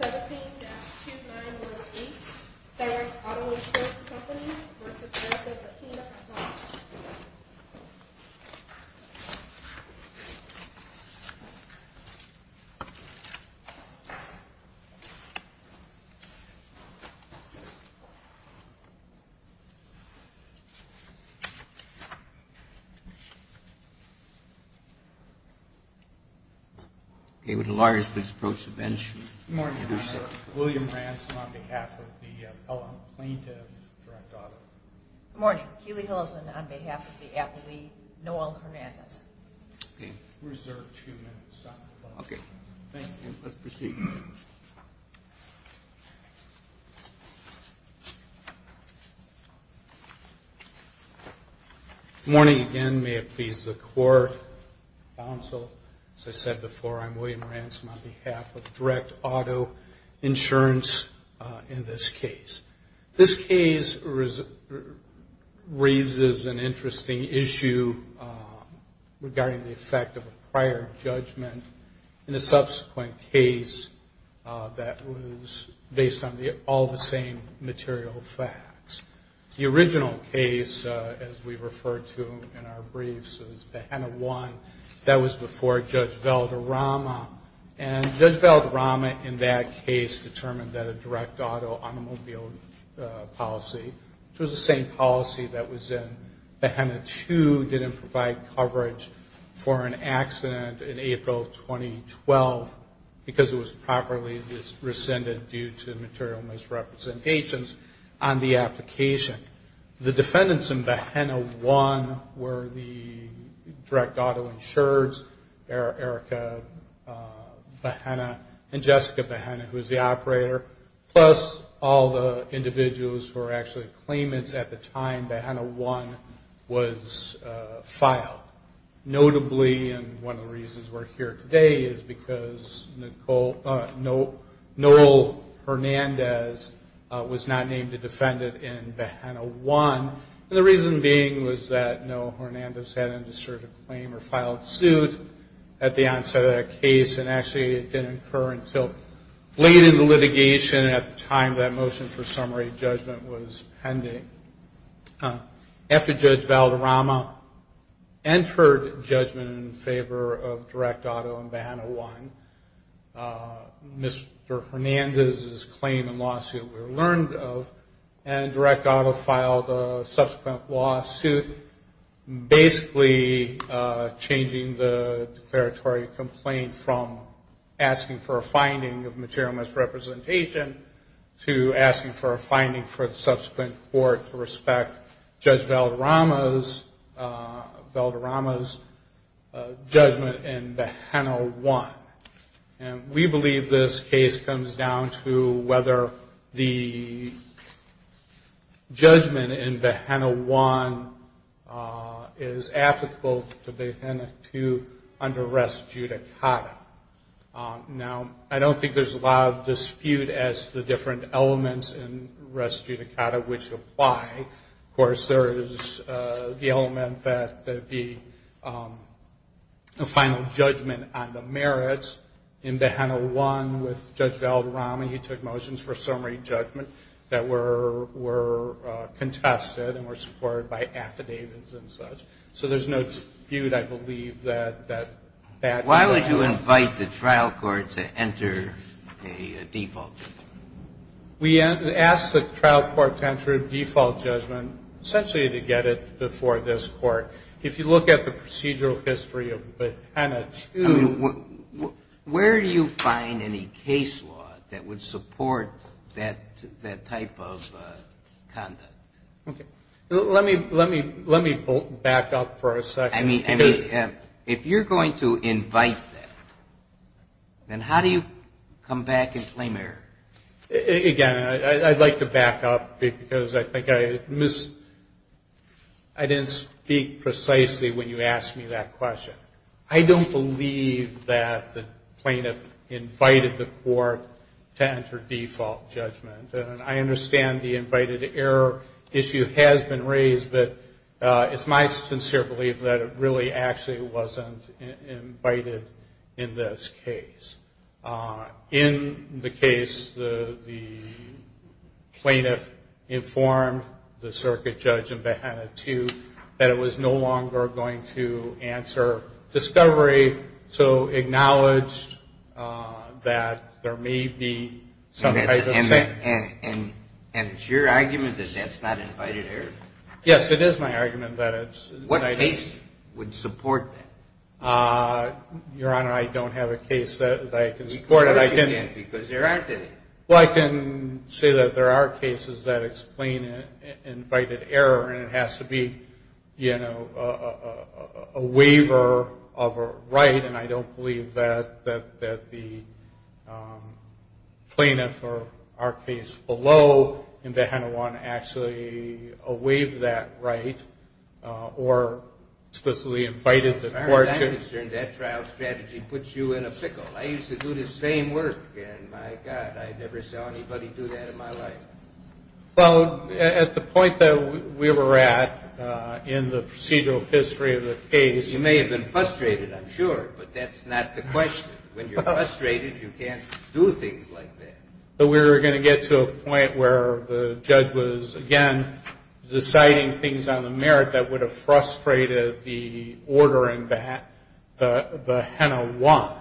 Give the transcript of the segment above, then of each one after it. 17-2918 Third Auto Insurance Company v. Bahena, FL William Ransom, on behalf of the L.M. plaintiff's direct auto. Good morning. Healy Hillison on behalf of the L.M. plaintiff's direct auto. Good morning. Healy Hillison on behalf of the L.M. plaintiff's direct auto. issue regarding the effect of a prior judgment in a subsequent case that was based on all the same material facts. The original case, as we referred to in our briefs, is BAHANA 1. That was before Judge Valderrama, and Judge Valderrama in that BAHANA 2 didn't provide coverage for an accident in April of 2012 because it was properly rescinded due to material misrepresentations on the application. The defendants in BAHANA 1 were the direct auto insureds, Erica BAHANA and Jessica BAHANA, who was the operator, plus all the individuals who were actually claimants at the time BAHANA 1 was filed. Notably, and one of the reasons we're here today is because Noel Hernandez was not named a defendant in BAHANA 1, and the reason being was that Noel litigation at the time that motion for summary judgment was pending. After Judge Valderrama entered judgment in favor of direct auto in BAHANA 1, Mr. Hernandez's claim and lawsuit were learned of, and direct auto filed a subsequent lawsuit basically changing the material misrepresentation to asking for a finding for the subsequent court to respect Judge Valderrama's judgment in BAHANA 1. And we believe this case comes down to whether the judgment in BAHANA 1 is applicable to BAHANA 2 under arrest judicata. Now, I don't think there's a lot of dispute as to the different elements in arrest judicata which apply. Of course, there is the element that there'd be a final judgment on the merits in BAHANA 1 with Judge Valderrama. He took motions for summary judgment that were contested and were to enter a default judgment. We asked the trial court to enter a default judgment essentially to get it before this court. If you look at the procedural history of BAHANA 2. Where do you find any case law that would support that type of conduct? Okay. Let me back up for a second. I mean, if you're going to invite that, then how do you come back and claim error? Again, I'd like to back up because I think I missed, I didn't speak precisely when you asked me that question. I don't believe that the plaintiff invited the court to enter default judgment. And I understand the invited error issue has been raised, but it's my sincere belief that it really actually wasn't invited in this case. In the case, the plaintiff informed the circuit judge in BAHANA 2 that it was no longer going to answer discovery, so acknowledged that there may be some type of... And it's your argument that that's not invited error? Yes, it is my argument that it's... What case would support that? Your Honor, I don't have a case that I can support it. Because there aren't any. Well, I can say that there are cases that explain invited error, and it has to be, you know, a waiver of a right, and I don't believe that the plaintiff or our case below in BAHANA 1 actually waived that right or specifically invited the court to... As far as I'm concerned, that trial strategy puts you in a pickle. I used to do the same work, and my God, I never saw anybody do that in my life. Well, at the point that we were at in the procedural history of the case... When you're frustrated, you can't do things like that. But we were going to get to a point where the judge was, again, deciding things on the merit that would have frustrated the ordering BAHANA 1.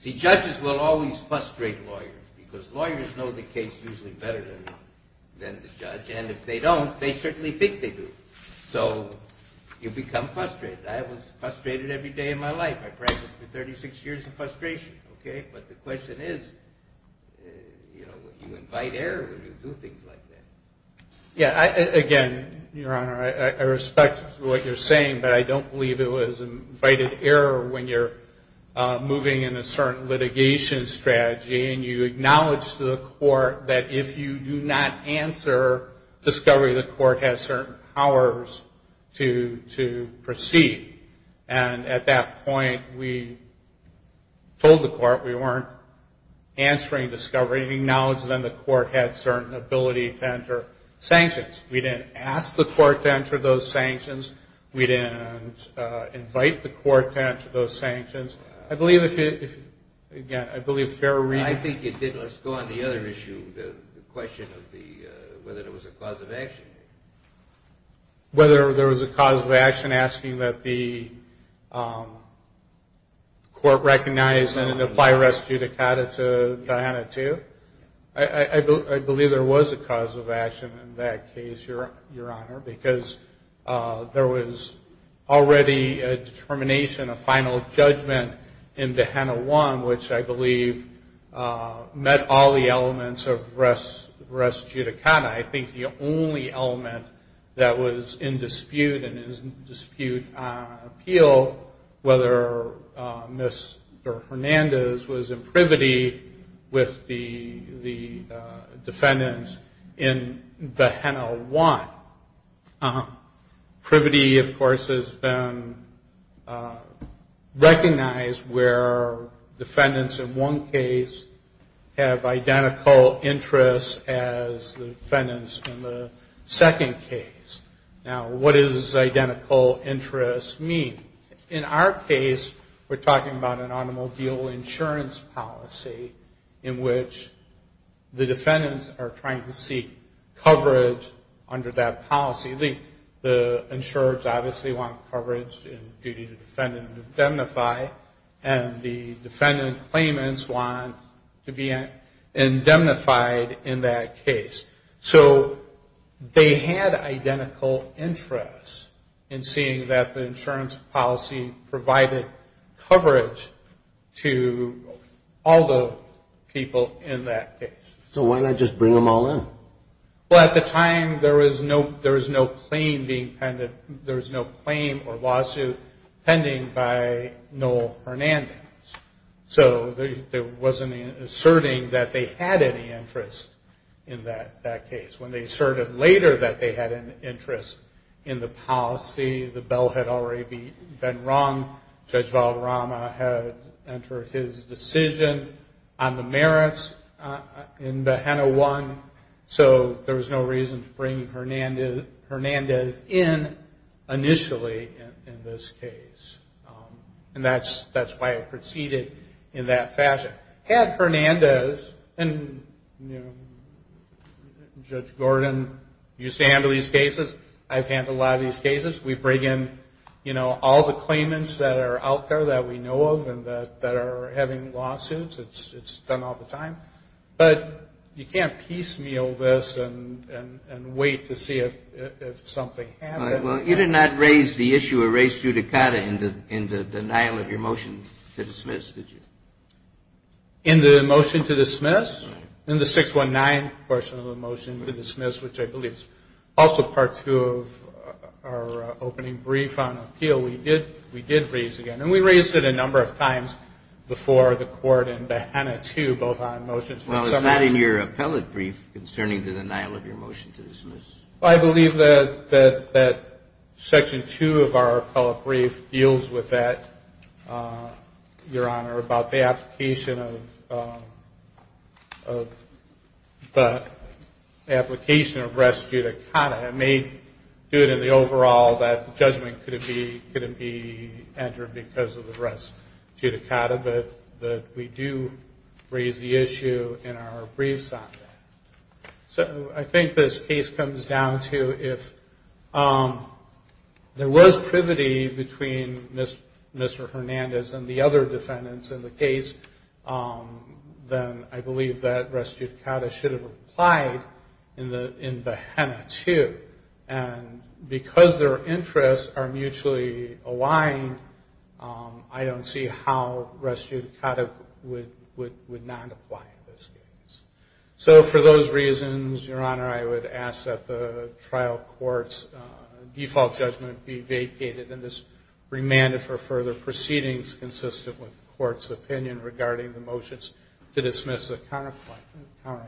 See, judges will always frustrate lawyers, because lawyers know the case usually better than the judge, and if they don't, they certainly think they do. So you become frustrated. I was frustrated every day of my life. I practiced for 36 years of frustration, okay? But the question is, you know, you invite error when you do things like that. Yeah, again, Your Honor, I respect what you're saying, but I don't believe it was invited error when you're moving in a certain litigation strategy and you acknowledge to the court that if you do not answer discovery, the court has certain powers to proceed. And at that point, we told the court we weren't answering discovery. We acknowledged then the court had certain ability to enter sanctions. We didn't ask the court to enter those sanctions. We didn't invite the court to enter those sanctions. I believe if you're reading... I think you did. Let's go on the other issue, the question of whether there was a cause of action. Whether there was a cause of action asking that the court recognize and apply rest judicata to BAHANA 2. I believe there was a cause of action in that case, Your Honor, because there was already a determination, a final judgment in BAHANA 1, which I believe met all the elements of rest judicata. I think the only element that was in dispute and is in dispute on appeal, whether Mr. Hernandez was in privity with the defendants in BAHANA 1. Privity, of course, has been recognized where defendants in one case have identical interests as the defendants in the second case. Now, what does identical interests mean? In our case, we're talking about an automobile insurance policy in which the defendants are trying to seek coverage under that policy. The insurers obviously want coverage in duty to defend and indemnify, and the defendant claimants want to be indemnified in that case. So they had identical interests in seeing that the insurance policy provided coverage to all the people in that case. So why not just bring them all in? Well, at the time, there was no claim or lawsuit pending by Noel Hernandez. So it wasn't asserting that they had any interest in that case. When they asserted later that they had an interest in the policy, the bell had already been rung. Judge Valderrama had entered his decision on the merits in BAHANA 1, so there was no reason to bring Hernandez in initially in this case. And that's why it proceeded in that fashion. Had Hernandez, and Judge Gordon used to handle these cases. I've handled a lot of these cases. We bring in, you know, all the claimants that are out there that we know of and that are having lawsuits. It's done all the time. But you can't piecemeal this and wait to see if something happens. Well, you did not raise the issue of race judicata in the denial of your motion to dismiss, did you? In the motion to dismiss, in the 619 portion of the motion to dismiss, which I believe is also Part 2 of our opening brief on appeal, we did raise it again. And we raised it a number of times before the court in BAHANA 2, both on motions. Well, it's not in your appellate brief concerning the denial of your motion to dismiss. I believe that Section 2 of our appellate brief deals with that, Your Honor, about the application of race judicata. It may do it in the overall that judgment couldn't be entered because of the race judicata, but we do raise the issue in our briefs on that. So I think this case comes down to if there was privity between Mr. Hernandez and the other defendants in the case, then I believe that race judicata should have applied in BAHANA 2. And because their interests are mutually aligned, I don't see how race judicata would not apply in this case. So for those reasons, Your Honor, I would ask that the trial court's default judgment be vacated and this remanded for further proceedings consistent with the court's opinion regarding the motions to dismiss the counterclaim.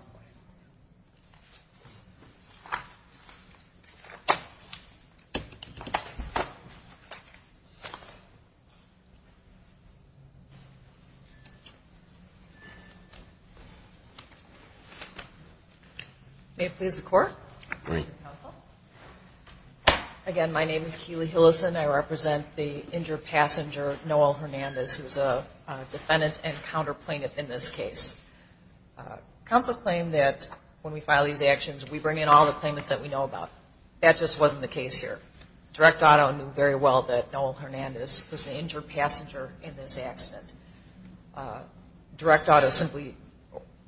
May it please the Court. Again, my name is Keely Hillison. I represent the injured passenger, Noel Hernandez, who's a defendant and counterplaint in this case. Counsel claimed that when we file these actions, we bring in all the claimants that we know about. That just wasn't the case here. Direct Auto knew very well that Noel Hernandez was the injured passenger in this accident. Direct Auto simply,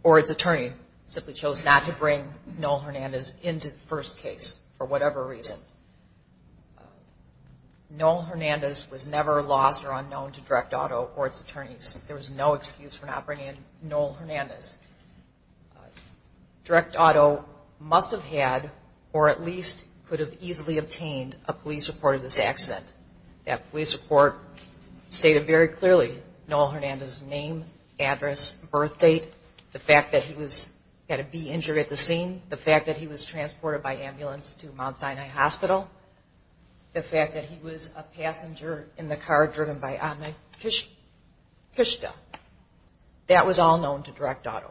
or its attorney, simply chose not to bring Noel Hernandez into the first case for whatever reason. Noel Hernandez was never lost or unknown to Direct Auto or its attorneys. There was no excuse for not bringing in Noel Hernandez. Direct Auto must have had, or at least could have easily obtained, a police report of this accident. That police report stated very clearly Noel Hernandez's name, address, birth date, the fact that he had a B injured at the scene, the fact that he was transported by ambulance to Mount Sinai Hospital, the fact that he was a passenger in the car driven by Ami Kishta. That was all known to Direct Auto.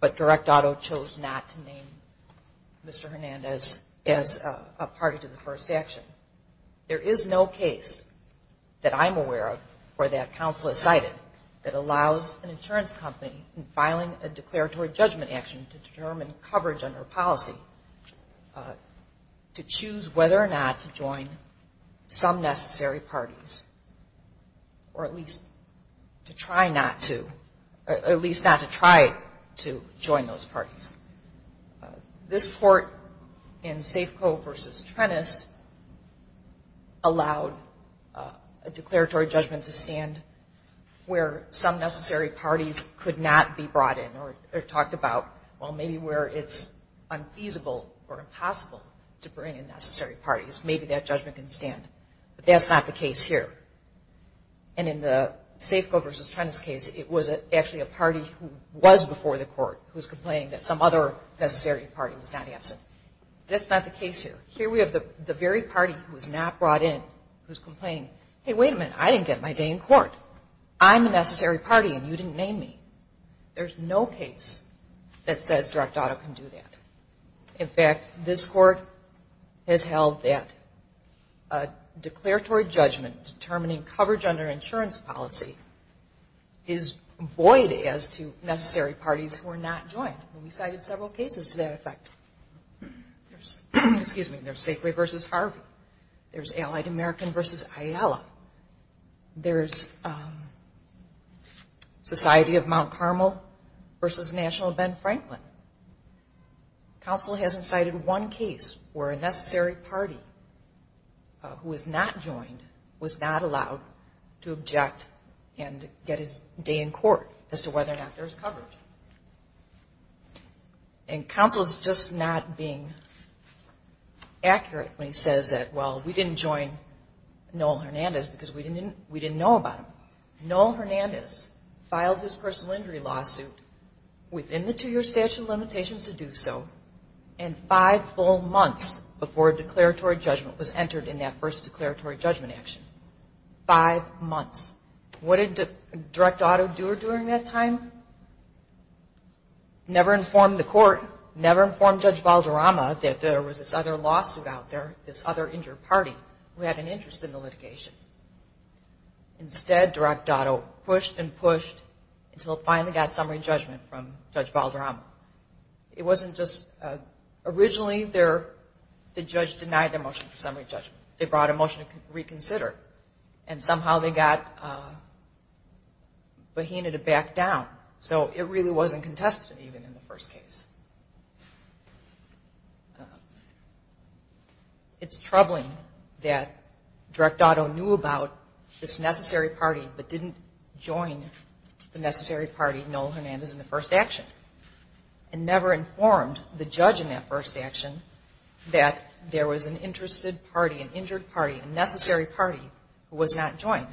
But Direct Auto chose not to name Mr. Hernandez as a party to the first action. There is no case that I'm aware of or that counsel has cited that allows an insurance company in filing a declaratory judgment action to determine coverage under policy to choose whether or not to join some necessary parties, or at least to try not to, or at least not to try to join those parties. This court in Safeco v. Trennis allowed a declaratory judgment to stand where some necessary parties could not be brought in, or talked about, well, maybe where it's unfeasible or impossible to bring in necessary parties. Maybe that judgment can stand. But that's not the case here. And in the Safeco v. Trennis case, it was actually a party who was before the court who was complaining that some other necessary party was not absent. That's not the case here. Here we have the very party who was not brought in who's complaining, hey, wait a minute, I didn't get my day in court. I'm a necessary party and you didn't name me. There's no case that says Direct Auto can do that. In fact, this court has held that a declaratory judgment determining coverage under insurance policy is void as to necessary parties who are not joined. We cited several cases to that effect. There's Safeway v. Harvey. There's Allied American v. Ayala. There's Society of Mount Carmel v. National of Ben Franklin. Counsel hasn't cited one case where a necessary party who was not joined was not allowed to object and get his day in court as to whether or not there was coverage. And counsel's just not being accurate when he says that, well, we didn't join Noel Hernandez because we didn't know about him. Noel Hernandez filed his personal injury lawsuit within the two-year statute of limitations to do so and five full months before a declaratory judgment was entered in that first declaratory judgment action. Five months. What did Direct Auto do during that time? Never informed the court, never informed Judge Balderrama that there was this other lawsuit out there, this other injured party who had an interest in the litigation. Instead, Direct Auto pushed and pushed until it finally got summary judgment from Judge Balderrama. It wasn't just originally the judge denied their motion for summary judgment. They brought a motion to reconsider, and somehow they got Bohena to back down. So it really wasn't contested even in the first case. It's troubling that Direct Auto knew about this necessary party but didn't join the necessary party, Noel Hernandez, in the first action and never informed the judge in that first action that there was an interested party, an injured party, a necessary party who was not joined.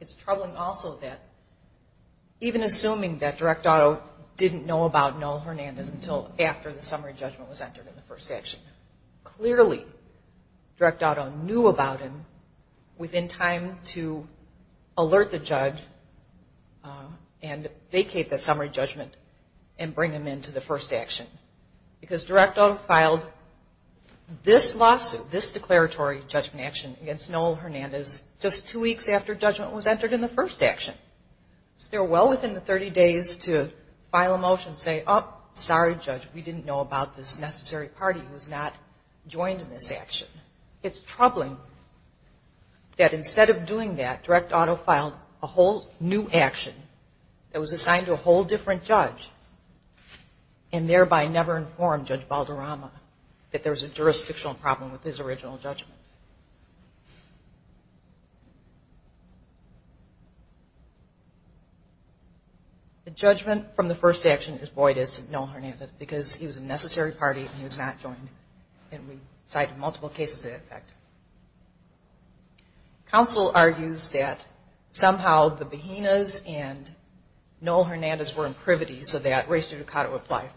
It's troubling also that even assuming that Direct Auto didn't know about Noel Hernandez until after the summary judgment was entered in the first action, clearly Direct Auto knew about him within time to alert the judge and vacate the summary judgment and bring him into the first action. Because Direct Auto filed this lawsuit, this declaratory judgment action against Noel Hernandez just two weeks after judgment was entered in the first action. So they're well within the 30 days to file a motion and say, oh, sorry, Judge, we didn't know about this necessary party who was not joined in this action. It's troubling that instead of doing that, Direct Auto filed a whole new action that was assigned to a whole different judge and thereby never informed Judge Valderrama that there was a jurisdictional problem with his original judgment. The judgment from the first action is Boyd is to Noel Hernandez because he was a necessary party and he was not joined. And we cited multiple cases of that effect. Counsel argues that somehow the Behinas and Noel Hernandez were imprivities so that race to the cot would apply.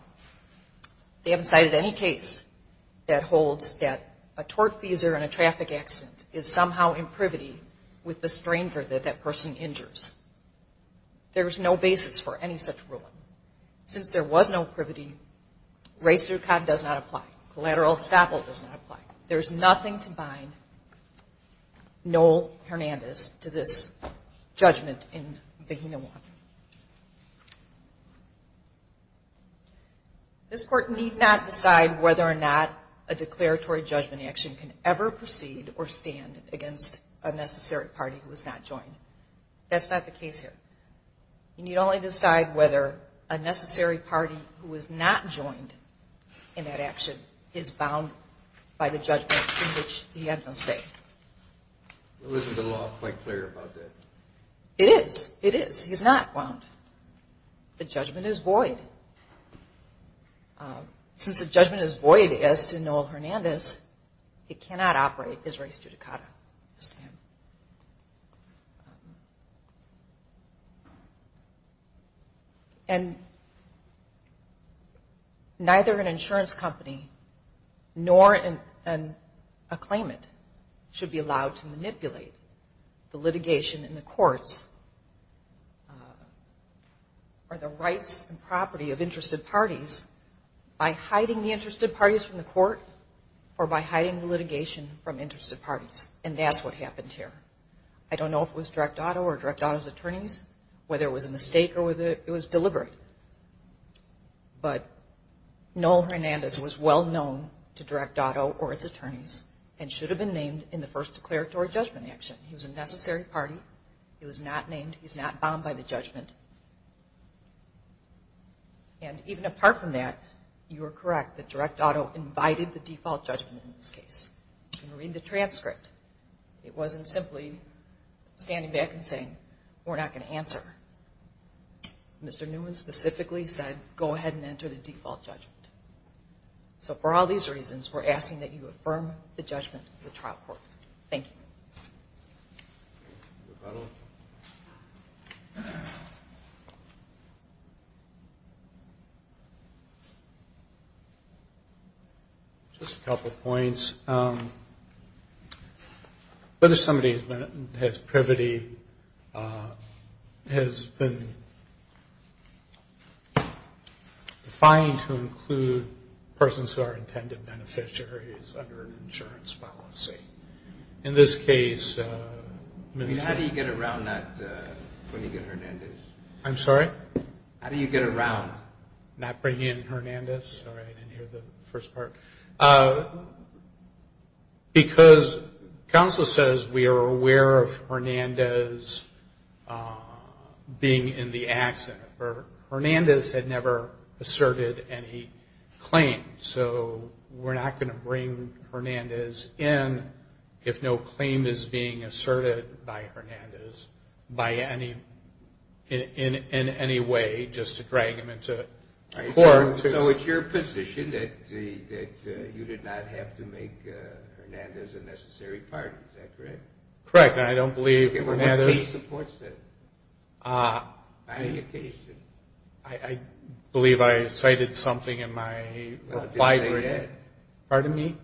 They haven't cited any case that holds that a torque teaser in a traffic accident is somehow imprivity with the stranger that that person injures. There is no basis for any such ruling. Since there was no privity, race to the cot does not apply. Collateral estoppel does not apply. There is nothing to bind Noel Hernandez to this judgment in Behina 1. This Court need not decide whether or not a declaratory judgment action can ever proceed or stand against a necessary party who was not joined. That's not the case here. You need only decide whether a necessary party who was not joined in that action is bound by the judgment in which he had no say. Isn't the law quite clear about that? It is. It is. He's not bound. The judgment is Boyd. Since the judgment is Boyd as to Noel Hernandez, it cannot operate as race to the cot. And neither an insurance company nor a claimant should be allowed to manipulate the litigation in the courts or the rights and property of interested parties by hiding the interested parties from the court or by hiding the litigation from interested parties. And that's what happened here. I don't know if it was Direct Auto or Direct Auto's attorneys, whether it was a mistake or whether it was deliberate, but Noel Hernandez was well known to Direct Auto or its attorneys and should have been named in the first declaratory judgment action. He was a necessary party. He was not named. He's not bound by the judgment. And even apart from that, you are correct that Direct Auto invited the default judgment in this case. Read the transcript. It wasn't simply standing back and saying, we're not going to answer. Mr. Newman specifically said, go ahead and enter the default judgment. So for all these reasons, we're asking that you affirm the judgment of the trial court. Thank you. The medal. Just a couple points. What if somebody has privity, has been defined to include persons who are intended beneficiaries under an insurance policy? In this case. How do you get around that when you get Hernandez? I'm sorry? How do you get around? Not bringing in Hernandez? Sorry, I didn't hear the first part. Because counsel says we are aware of Hernandez being in the accident, or Hernandez had never asserted any claim. So we're not going to bring Hernandez in if no claim is being asserted by Hernandez in any way just to drag him into court. So it's your position that you did not have to make Hernandez a necessary partner, is that correct? Correct. And I don't believe Hernandez. What case supports that? I believe I cited something in my reply brief. Pardon me?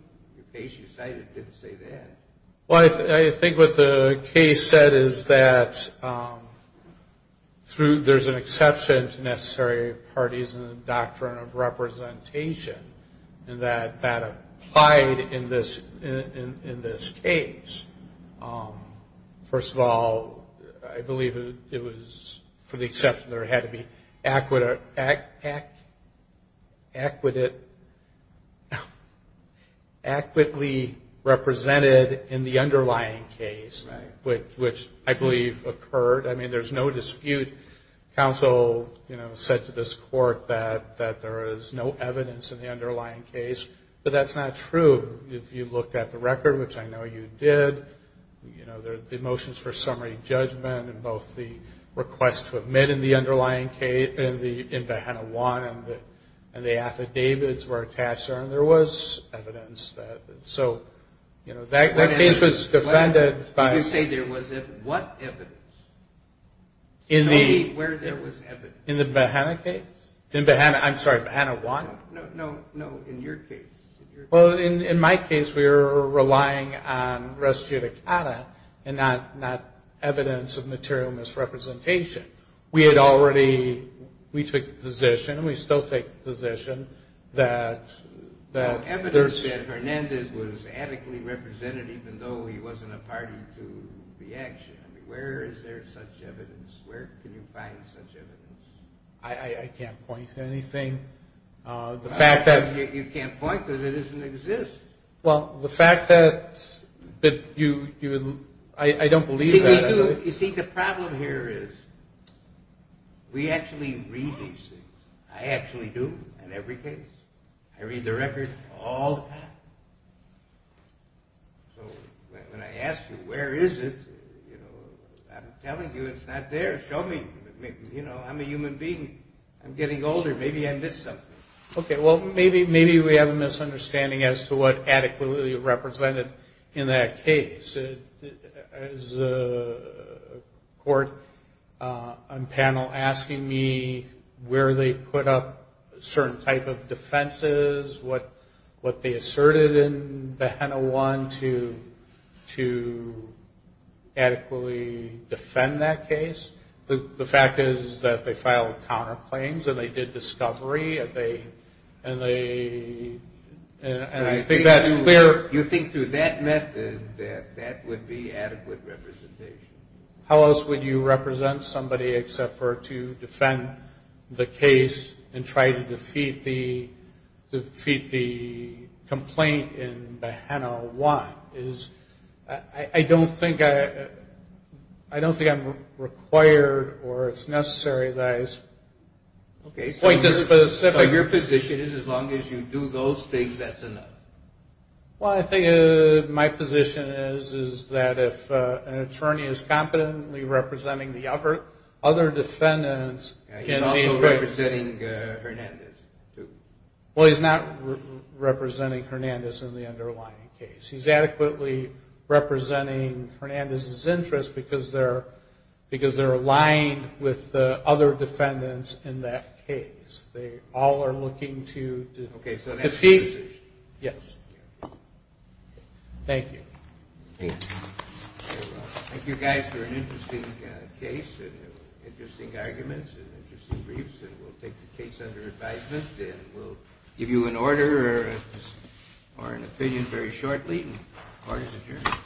The case you cited didn't say that. I think what the case said is that there's an exception to necessary parties in the doctrine of representation, and that applied in this case. First of all, I believe it was for the exception that it had to be equitably represented in the underlying case, which I believe occurred. I mean, there's no dispute. Counsel said to this court that there is no evidence in the underlying case, but that's not true. If you looked at the record, which I know you did, the motions for summary judgment and both the request to admit in the underlying case in BAHANA I and the affidavits were attached there, and there was evidence. So that case was defended by the law. What evidence? Tell me where there was evidence. In the BAHANA case? I'm sorry, BAHANA I? No, in your case. Well, in my case, we were relying on res judicata and not evidence of material misrepresentation. We had already, we took the position, and we still take the position that there's. Evidence that Hernandez was adequately represented, even though he wasn't a party to the action. I mean, where is there such evidence? Where can you find such evidence? I can't point to anything. You can't point because it doesn't exist. Well, the fact that you, I don't believe that. You see, the problem here is we actually read these things. I actually do in every case. I read the record all the time. So when I ask you where is it, I'm telling you it's not there. Show me. I'm a human being. I'm getting older. Maybe I missed something. Okay, well, maybe we have a misunderstanding as to what adequately represented in that case. As a court on panel asking me where they put up certain type of defenses, what they asserted in BAHANA I to adequately defend that case, the fact is that they filed counterclaims and they did discovery, and I think that's clear. You think through that method that that would be adequate representation? How else would you represent somebody except for to defend the case and try to defeat the complaint in BAHANA I? I don't think I'm required or it's necessary that I point to specific. So your position is as long as you do those things, that's enough? Well, I think my position is that if an attorney is competently representing the other defendants. He's also representing Hernandez, too. Well, he's not representing Hernandez in the underlying case. He's adequately representing Hernandez's interest because they're aligned with the other defendants in that case. They all are looking to defeat. Okay, so that's your position? Yes. Thank you. Thank you, guys, for an interesting case and interesting arguments and interesting briefs, and we'll take the case under advisement and we'll give you an order or an opinion very shortly. Order's adjourned.